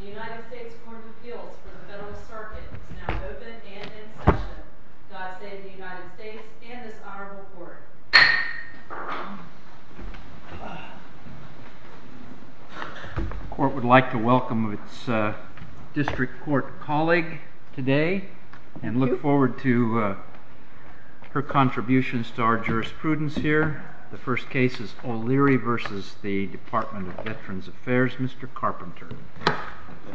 The United States Court of Appeals for the Federalist Circuit is now open and in session. God save the United States and this Honorable Court. The Court would like to welcome its District Court colleague today and look forward to her contributions to our jurisprudence here. The first case is O'Leary v. DVA, Mr. Carpenter. Thank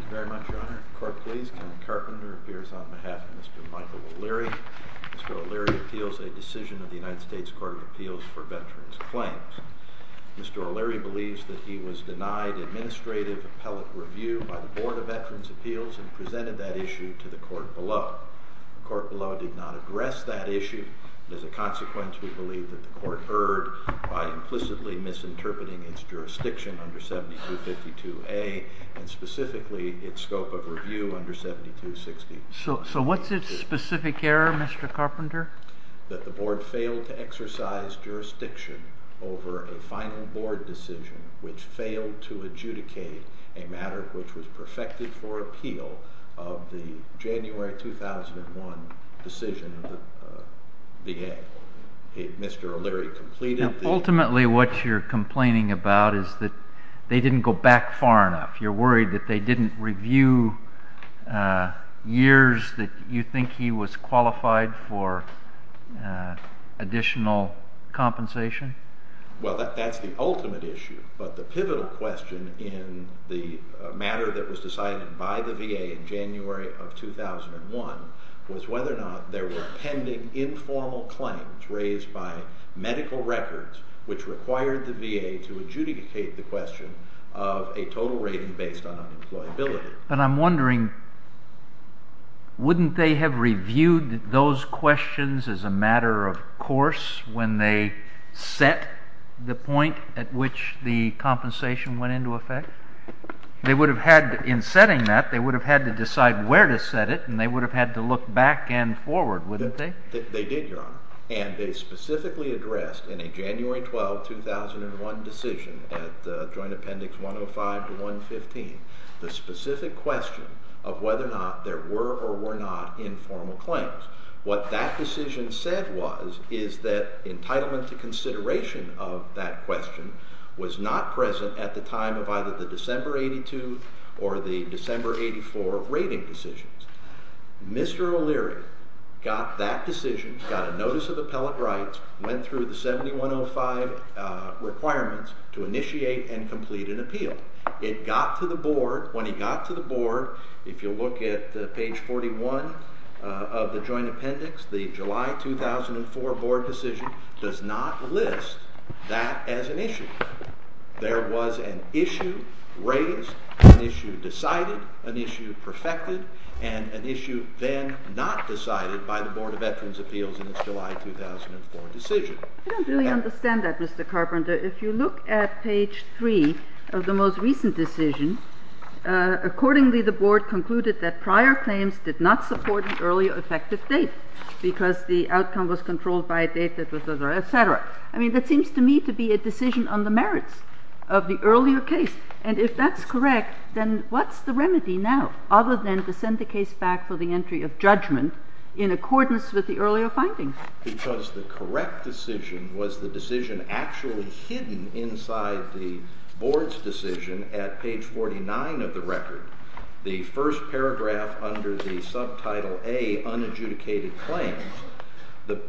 you very much, Your Honor. The Court, please. Kevin Carpenter appears on behalf of Mr. Michael O'Leary. Mr. O'Leary appeals a decision of the United States Court of Appeals for Veterans Claims. Mr. O'Leary believes that he was denied administrative appellate review by the Board of Veterans Appeals and presented that issue to the Court below. The Court below did not address that issue. As a consequence, we believe that the Court erred by implicitly misinterpreting its jurisdiction under 7252A and specifically its scope of review under 7262B. So what's its specific error, Mr. Carpenter? That the Board failed to exercise jurisdiction over a final Board decision which failed to adjudicate a matter which was perfected for appeal of the January 2001 decision of the VA. Mr. O'Leary completed the— So ultimately what you're complaining about is that they didn't go back far enough. You're worried that they didn't review years that you think he was qualified for additional compensation? Well, that's the ultimate issue. But the pivotal question in the matter that was decided by the VA in January of 2001 was whether or not there were pending informal claims raised by medical records which required the VA to adjudicate the question of a total rating based on unemployability. But I'm wondering, wouldn't they have reviewed those questions as a matter of course when they set the point at which the compensation went into effect? In setting that, they would have had to decide where to set it, and they would have had to look back and forward, wouldn't they? They did, Your Honor, and they specifically addressed in a January 12, 2001 decision at Joint Appendix 105 to 115 the specific question of whether or not there were or were not informal claims. What that decision said was is that entitlement to consideration of that question was not present at the time of either the December 82 or the December 84 rating decisions. Mr. O'Leary got that decision, got a notice of appellate rights, went through the 7105 requirements to initiate and complete an appeal. It got to the Board. When it got to the Board, if you look at page 41 of the Joint Appendix, the July 2004 Board decision does not list that as an issue. There was an issue raised, an issue decided, an issue perfected, and an issue then not decided by the Board of Veterans' Appeals in its July 2004 decision. I don't really understand that, Mr. Carpenter. If you look at page 3 of the most recent decision, accordingly the Board concluded that prior claims did not support an earlier effective date because the outcome was controlled by a date that was, etc. I mean, that seems to me to be a decision on the merits of the earlier case, and if that's correct, then what's the remedy now other than to send the case back for the entry of judgment in accordance with the earlier findings? Because the correct decision was the decision actually hidden inside the Board's decision at page 49 of the record, the first paragraph under the Subtitle A, Unadjudicated Claims. The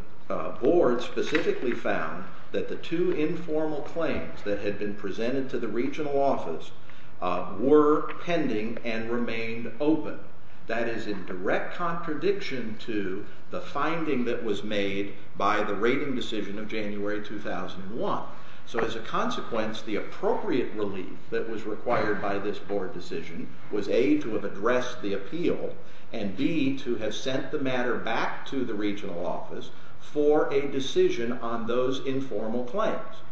Board specifically found that the two informal claims that had been presented to the Regional Office were pending and remained open. That is in direct contradiction to the finding that was made by the rating decision of January 2001. So as a consequence, the appropriate relief that was required by this Board decision was A, to have addressed the appeal, and B, to have sent the matter back to the Regional Office for a decision on those informal claims.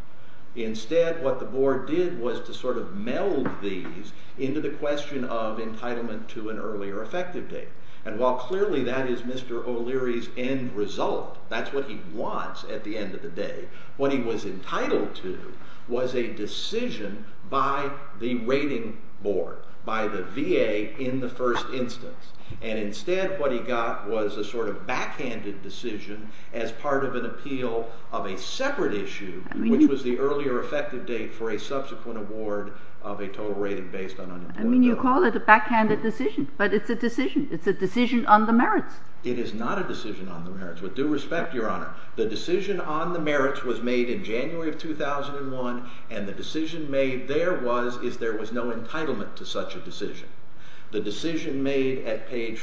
Instead, what the Board did was to sort of meld these into the question of entitlement to an earlier effective date. And while clearly that is Mr. O'Leary's end result, that's what he wants at the end of the day, what he was entitled to was a decision by the rating Board, by the VA in the first instance. And instead, what he got was a sort of backhanded decision as part of an appeal of a separate issue, which was the earlier effective date for a subsequent award of a total rating based on unemployment. I mean, you call it a backhanded decision, but it's a decision. It's a decision on the merits. The decision made at page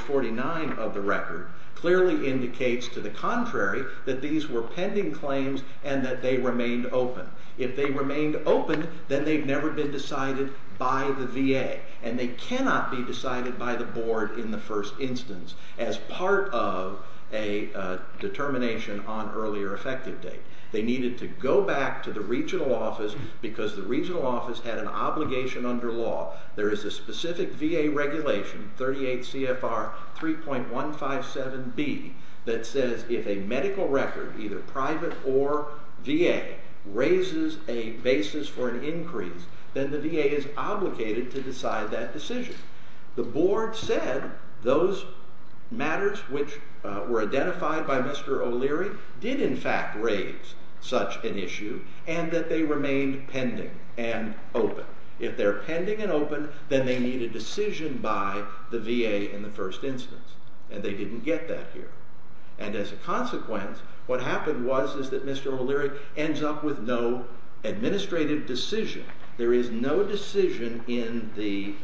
49 of the record clearly indicates to the contrary that these were pending claims and that they remained open. If they remained open, then they've never been decided by the VA, and they cannot be decided by the Board in the first instance as part of a determination on earlier effective date. They needed to go back to the Regional Office because the Regional Office had an obligation under law. There is a specific VA regulation, 38 CFR 3.157B, that says if a medical record, either private or VA, raises a basis for an increase, then the VA is obligated to decide that decision. The Board said those matters which were identified by Mr. O'Leary did in fact raise such an issue and that they remained pending and open. If they're pending and open, then they need a decision by the VA in the first instance, and they didn't get that here. As a consequence, what happened was that Mr. O'Leary ends up with no administrative decision. There is no decision in the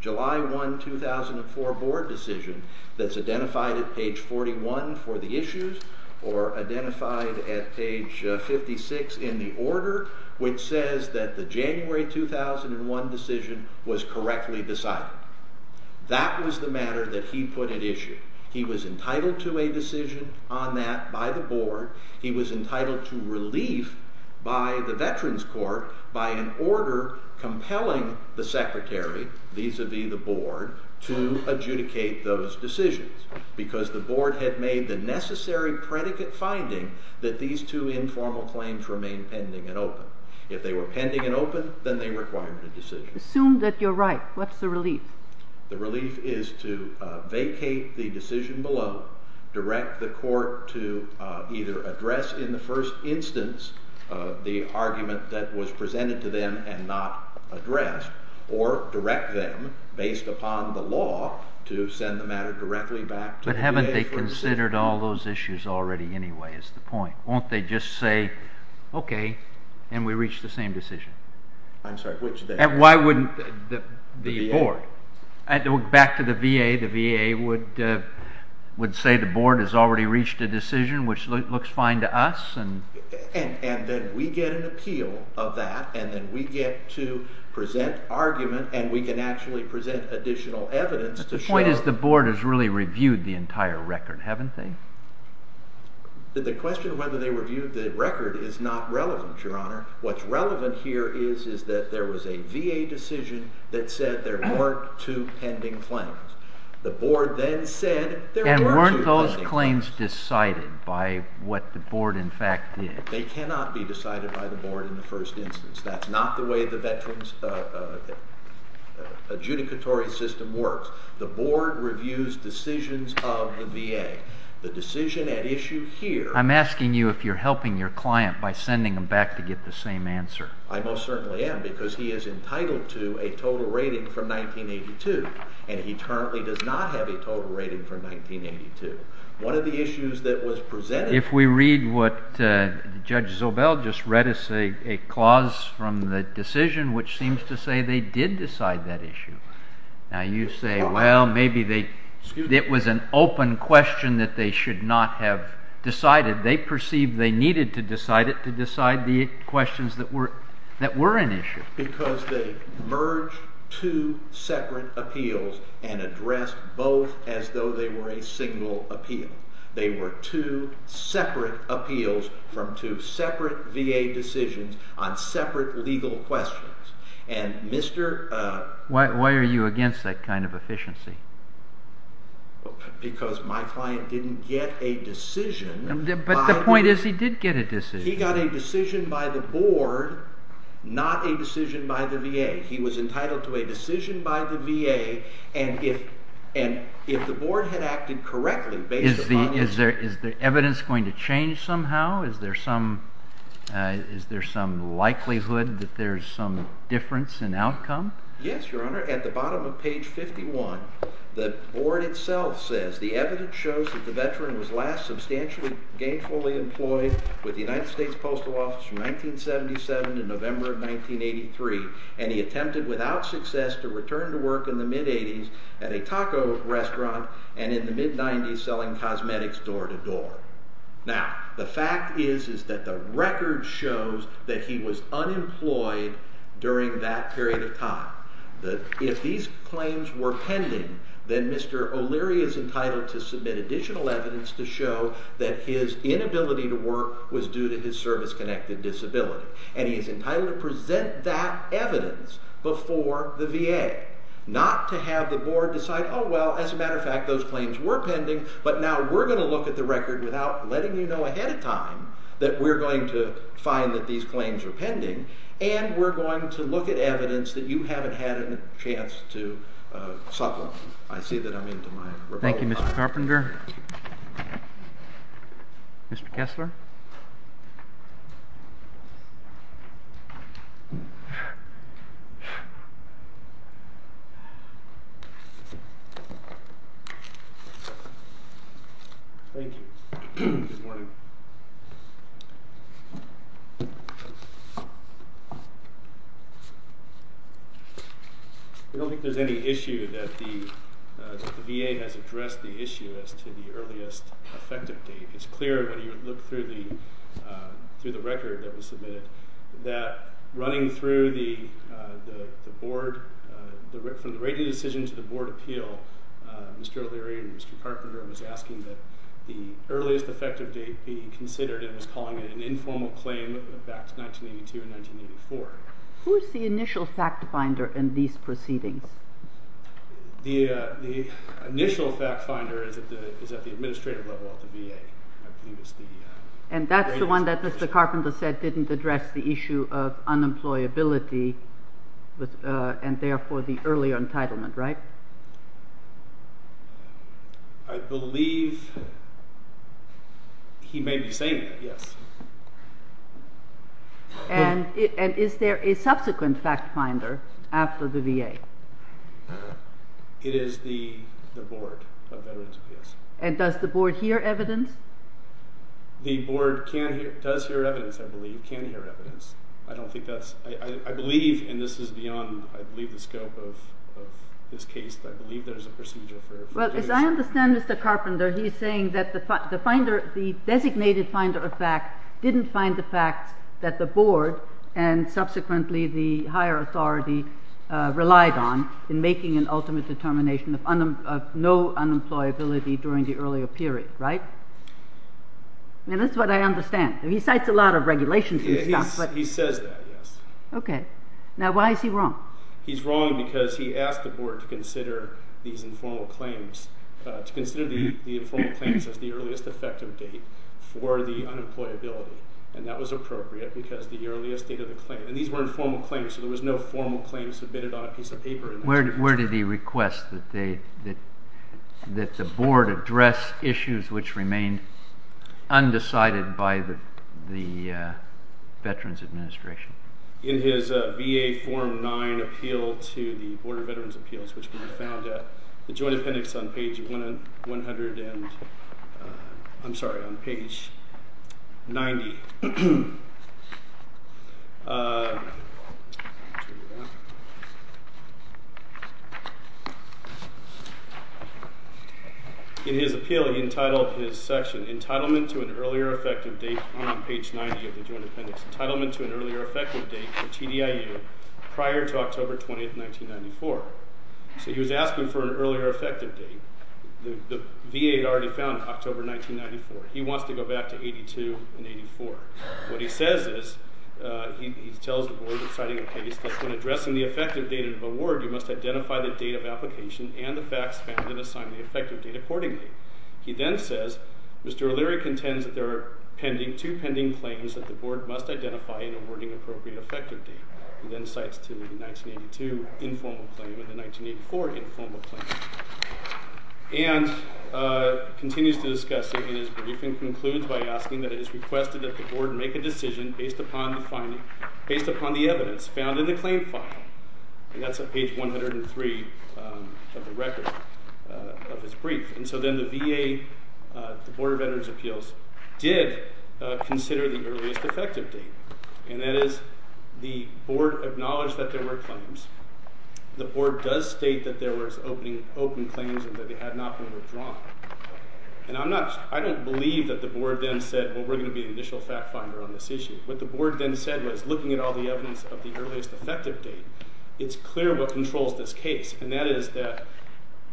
July 1, 2004 Board decision that's identified at page 41 for the issues or identified at page 56 in the order which says that the January 2001 decision was correctly decided. That was the matter that he put at issue. He was entitled to a decision on that by the Board. He was entitled to relief by the Veterans Court by an order compelling the Secretary vis-a-vis the Board to adjudicate those decisions because the Board had made the necessary predicate finding that these two informal claims remained pending and open. If they were pending and open, then they required a decision. Assume that you're right. What's the relief? The relief is to vacate the decision below, direct the court to either address in the first instance the argument that was presented to them and not addressed, or direct them, based upon the law, to send the matter directly back to the VA. But haven't they considered all those issues already anyway, is the point? Won't they just say, okay, and we reach the same decision? And why wouldn't the Board? Back to the VA, the VA would say the Board has already reached a decision which looks fine to us? And then we get an appeal of that, and then we get to present argument, and we can actually present additional evidence to show. But the point is the Board has really reviewed the entire record, haven't they? The question of whether they reviewed the record is not relevant, Your Honor. What's relevant here is that there was a VA decision that said there weren't two pending claims. The Board then said there were two pending claims. They cannot be decided by the Board in the first instance. That's not the way the Veterans adjudicatory system works. The Board reviews decisions of the VA. The decision at issue here… I'm asking you if you're helping your client by sending them back to get the same answer. I most certainly am, because he is entitled to a total rating from 1982, and he currently does not have a total rating from 1982. One of the issues that was presented… Judge Zobel just read us a clause from the decision which seems to say they did decide that issue. Now you say, well, maybe it was an open question that they should not have decided. They perceived they needed to decide it to decide the questions that were an issue. Because they merged two separate appeals and addressed both as though they were a single appeal. They were two separate appeals from two separate VA decisions on separate legal questions. And Mr.… Why are you against that kind of efficiency? Because my client didn't get a decision. But the point is he did get a decision. He got a decision by the Board, not a decision by the VA. He was entitled to a decision by the VA, and if the Board had acted correctly based upon… Is the evidence going to change somehow? Is there some likelihood that there's some difference in outcome? Yes, Your Honor. At the bottom of page 51, the Board itself says the evidence shows that the veteran was last substantially gainfully employed with the United States Postal Office from 1977 to November of 1983, and he attempted without success to return to work in the mid-80s at a taco restaurant and in the mid-90s selling cosmetics door-to-door. Now, the fact is that the record shows that he was unemployed during that period of time. If these claims were pending, then Mr. O'Leary is entitled to submit additional evidence to show that his inability to work was due to his service-connected disability. And he is entitled to present that evidence before the VA, not to have the Board decide, oh, well, as a matter of fact, those claims were pending, but now we're going to look at the record without letting you know ahead of time that we're going to find that these claims are pending, and we're going to look at evidence that you haven't had a chance to supplement. I see that I'm into my report time. Thank you, Mr. Carpenter. Mr. Kessler? Thank you. Good morning. I don't think there's any issue that the VA has addressed the issue as to the earliest effective date. It's clear when you look through the record that was submitted that running through the Board, from the rating decision to the Board appeal, Mr. O'Leary and Mr. Carpenter was asking that the earliest effective date be considered and was calling it an informal claim back to 1982 and 1984. Who's the initial fact finder in these proceedings? The initial fact finder is at the administrative level of the VA. And that's the one that Mr. Carpenter said didn't address the issue of unemployability and, therefore, the early entitlement, right? I believe he may be saying that, yes. And is there a subsequent fact finder after the VA? It is the Board of Veterans Affairs. And does the Board hear evidence? The Board does hear evidence, I believe, can hear evidence. I don't think that's – I believe, and this is beyond, I believe, the scope of this case, but I believe there's a procedure for doing so. Yes, I understand Mr. Carpenter. He's saying that the finder – the designated finder of fact didn't find the fact that the Board and, subsequently, the higher authority relied on in making an ultimate determination of no unemployability during the earlier period, right? I mean, that's what I understand. He cites a lot of regulations and stuff, but – He says that, yes. Okay. Now, why is he wrong? He's wrong because he asked the Board to consider these informal claims, to consider the informal claims as the earliest effective date for the unemployability. And that was appropriate because the earliest date of the claim – and these were informal claims, so there was no formal claim submitted on a piece of paper. Where did he request that the Board address issues which remained undecided by the Veterans Administration? In his VA Form 9 appeal to the Board of Veterans Appeals, which can be found at the Joint Appendix on page 100 and – I'm sorry, on page 90. In his appeal, he entitled his section, Entitlement to an Earlier Effective Date, on page 90 of the Joint Appendix, Entitlement to an Earlier Effective Date for TDIU prior to October 20, 1994. So he was asking for an earlier effective date. The VA had already found it October 1994. He wants to go back to 82 and 84. What he says is – he tells the Board, citing a case, that when addressing the effective date of award, you must identify the date of application and the facts found and assign the effective date accordingly. He then says, Mr. O'Leary contends that there are two pending claims that the Board must identify in awarding appropriate effective date. He then cites the 1982 informal claim and the 1984 informal claim. And continues to discuss it in his brief and concludes by asking that it is requested that the Board make a decision based upon the evidence found in the claim file. And that's on page 103 of the record of his brief. And so then the VA – the Board of Veterans Appeals did consider the earliest effective date. And that is the Board acknowledged that there were claims. The Board does state that there was open claims and that they had not been withdrawn. And I'm not – I don't believe that the Board then said, well, we're going to be an initial fact finder on this issue. What the Board then said was, looking at all the evidence of the earliest effective date, it's clear what controls this case. And that is that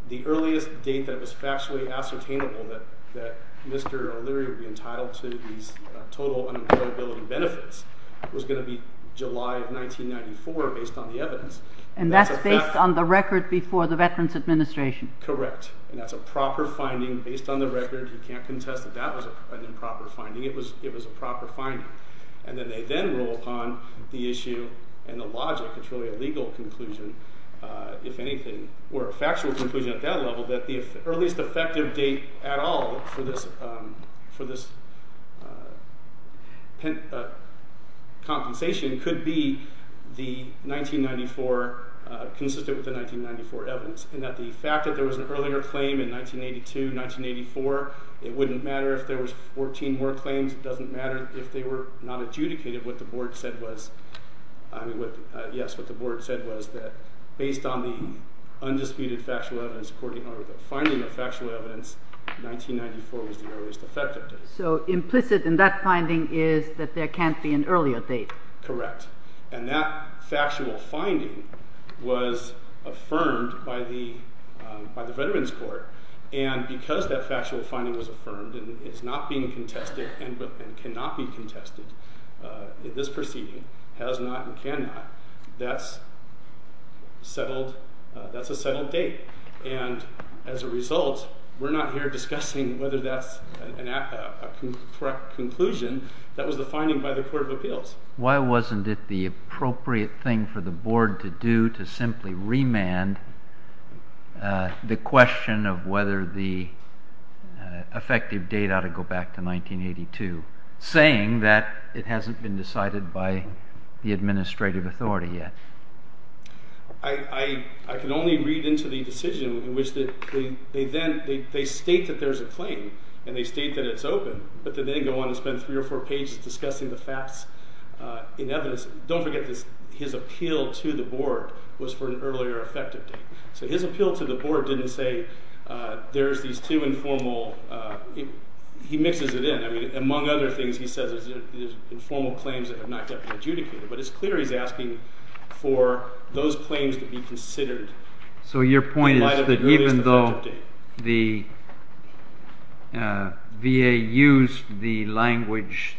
the earliest date that was factually ascertainable that Mr. O'Leary would be entitled to these total unemployability benefits was going to be July of 1994 based on the evidence. And that's based on the record before the Veterans Administration. Correct. And that's a proper finding based on the record. You can't contest that that was an improper finding. It was a proper finding. And then they then rule upon the issue and the logic, it's really a legal conclusion if anything, or a factual conclusion at that level, that the earliest effective date at all for this compensation could be the 1994 – consistent with the 1994 evidence. And that the fact that there was an earlier claim in 1982, 1984, it wouldn't matter if there was 14 more claims. It doesn't matter if they were not adjudicated. What the Board said was, I mean, yes, what the Board said was that based on the undisputed factual evidence, according to the finding of factual evidence, 1994 was the earliest effective date. So implicit in that finding is that there can't be an earlier date. Correct. And that factual finding was affirmed by the Veterans Court. And because that factual finding was affirmed and is not being contested and cannot be contested, this proceeding has not and cannot, that's a settled date. And as a result, we're not here discussing whether that's a correct conclusion. That was the finding by the Court of Appeals. Why wasn't it the appropriate thing for the Board to do to simply remand the question of whether the effective date ought to go back to 1982, saying that it hasn't been decided by the administrative authority yet? I can only read into the decision in which they state that there's a claim, and they state that it's open, but then they go on and spend three or four pages discussing the facts in evidence. Don't forget this. His appeal to the Board was for an earlier effective date. So his appeal to the Board didn't say there's these two informal, he mixes it in. I mean, among other things, he says there's informal claims that have not yet been adjudicated. But it's clear he's asking for those claims to be considered in light of the earliest effective date. The VA used the language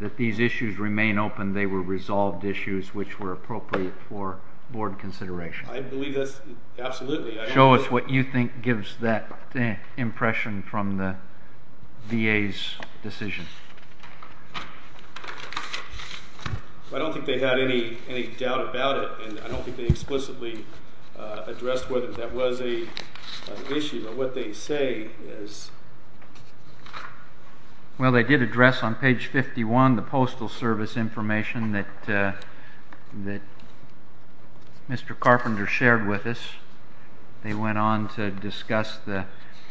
that these issues remain open. They were resolved issues which were appropriate for Board consideration. I believe that's absolutely. Show us what you think gives that impression from the VA's decision. I don't think they had any doubt about it, and I don't think they explicitly addressed whether that was an issue. But what they say is... Well, they did address on page 51 the Postal Service information that Mr. Carpenter shared with us. They went on to discuss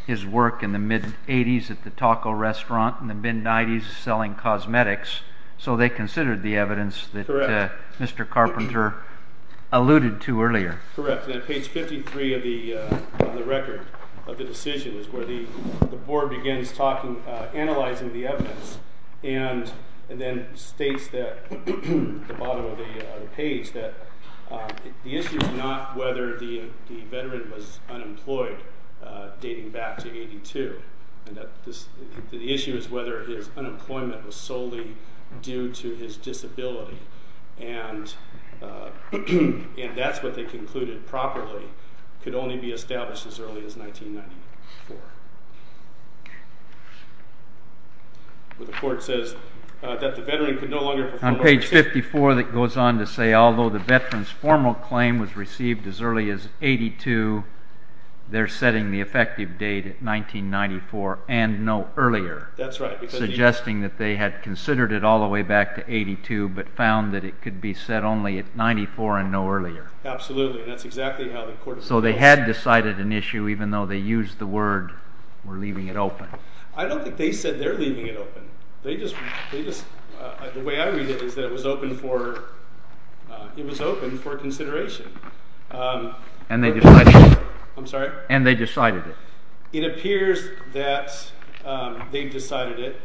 his work in the mid-'80s at the taco restaurant and the mid-'90s selling cosmetics. So they considered the evidence that Mr. Carpenter alluded to earlier. Correct. And on page 53 of the record of the decision is where the Board begins analyzing the evidence and then states at the bottom of the page that the issue is not whether the veteran was unemployed dating back to 82. The issue is whether his unemployment was solely due to his disability. And that's what they concluded properly could only be established as early as 1994. The report says that the veteran could no longer perform... On page 54 it goes on to say although the veteran's formal claim was received as early as 82, they're setting the effective date at 1994 and no earlier. That's right. Suggesting that they had considered it all the way back to 82 but found that it could be set only at 94 and no earlier. Absolutely. That's exactly how the court... So they had decided an issue even though they used the word we're leaving it open. I don't think they said they're leaving it open. The way I read it is that it was open for consideration. And they decided it. I'm sorry? And they decided it. It appears that they decided it.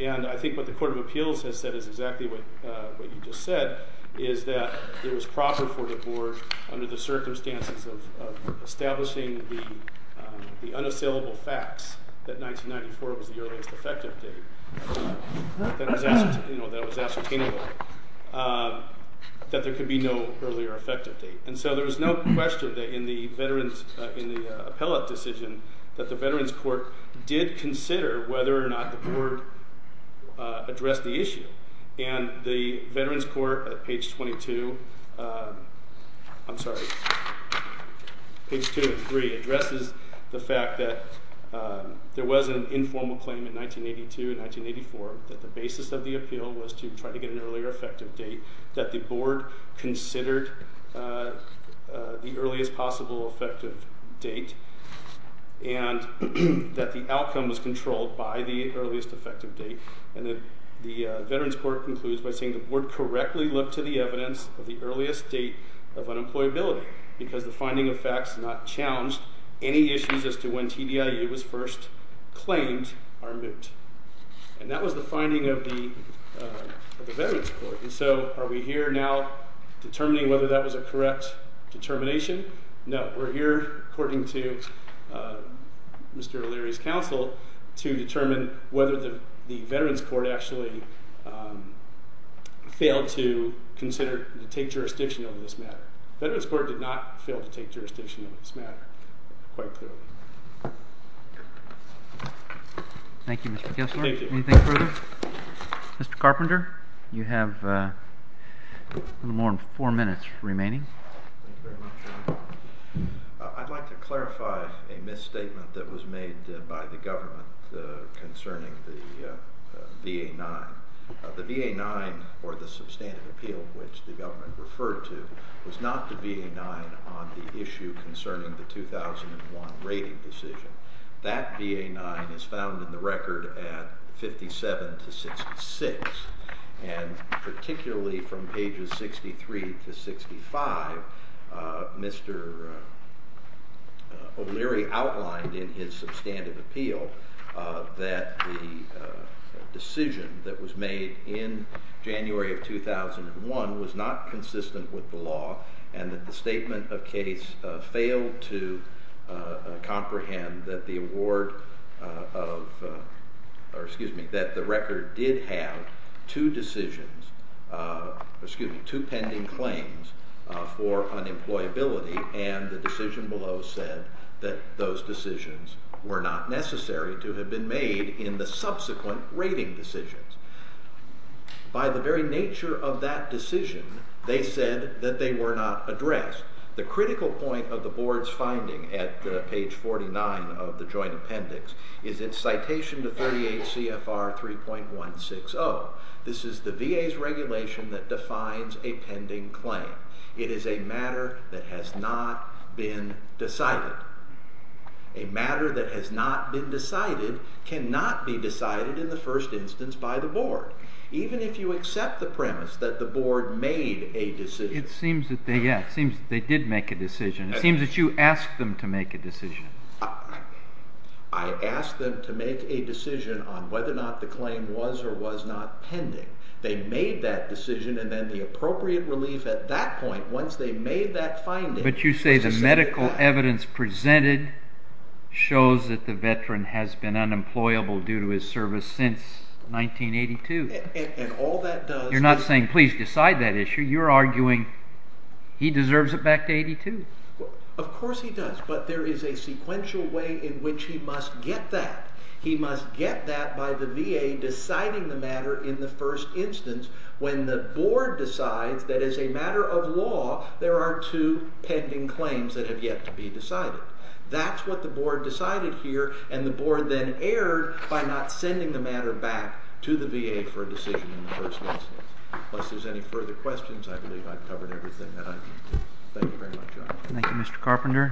And I think what the Court of Appeals has said is exactly what you just said is that it was proper for the board under the circumstances of establishing the unassailable facts that 1994 was the earliest effective date. That was ascertainable. That there could be no earlier effective date. And so there was no question in the appellate decision that the Veterans Court did consider whether or not the board addressed the issue. And the Veterans Court at page 22, I'm sorry, page 2 and 3 addresses the fact that there was an informal claim in 1982 and 1984 that the basis of the appeal was to try to get an earlier effective date, that the board considered the earliest possible effective date, and that the outcome was controlled by the earliest effective date. And the Veterans Court concludes by saying the board correctly looked to the evidence of the earliest date of unemployability because the finding of facts not challenged any issues as to when TDIU was first claimed are moot. And that was the finding of the Veterans Court. And so are we here now determining whether that was a correct determination? No. We're here, according to Mr. O'Leary's counsel, to determine whether the Veterans Court actually failed to consider and take jurisdiction over this matter. The Veterans Court did not fail to take jurisdiction over this matter quite clearly. Thank you, Mr. Kessler. Thank you. Anything further? Mr. Carpenter, you have a little more than four minutes remaining. Thank you very much. I'd like to clarify a misstatement that was made by the government concerning the VA-9. The VA-9, or the substantive appeal which the government referred to, was not the VA-9 on the issue concerning the 2001 rating decision. That VA-9 is found in the record at 57 to 66, and particularly from pages 63 to 65, Mr. O'Leary outlined in his substantive appeal that the decision that was made in January of 2001 was not consistent with the law and that the statement of case failed to comprehend that the record did have two pending claims for unemployability, and the decision below said that those decisions were not necessary to have been made in the subsequent rating decisions. By the very nature of that decision, they said that they were not addressed. The critical point of the board's finding at page 49 of the joint appendix is in citation to 38 CFR 3.160. This is the VA's regulation that defines a pending claim. It is a matter that has not been decided. A matter that has not been decided cannot be decided in the first instance by the board, even if you accept the premise that the board made a decision. It seems that they did make a decision. It seems that you asked them to make a decision. I asked them to make a decision on whether or not the claim was or was not pending. They made that decision, and then the appropriate relief at that point, once they made that finding... But you say the medical evidence presented shows that the veteran has been unemployable due to his service since 1982. And all that does... You're not saying, please decide that issue. You're arguing he deserves it back to 1982. Of course he does, but there is a sequential way in which he must get that. He must get that by the VA deciding the matter in the first instance. When the board decides that it is a matter of law, there are two pending claims that have yet to be decided. That's what the board decided here, and the board then erred by not sending the matter back to the VA for a decision in the first instance. Unless there's any further questions, I believe I've covered everything that I can. Thank you very much, John. Thank you, Mr. Carpenter.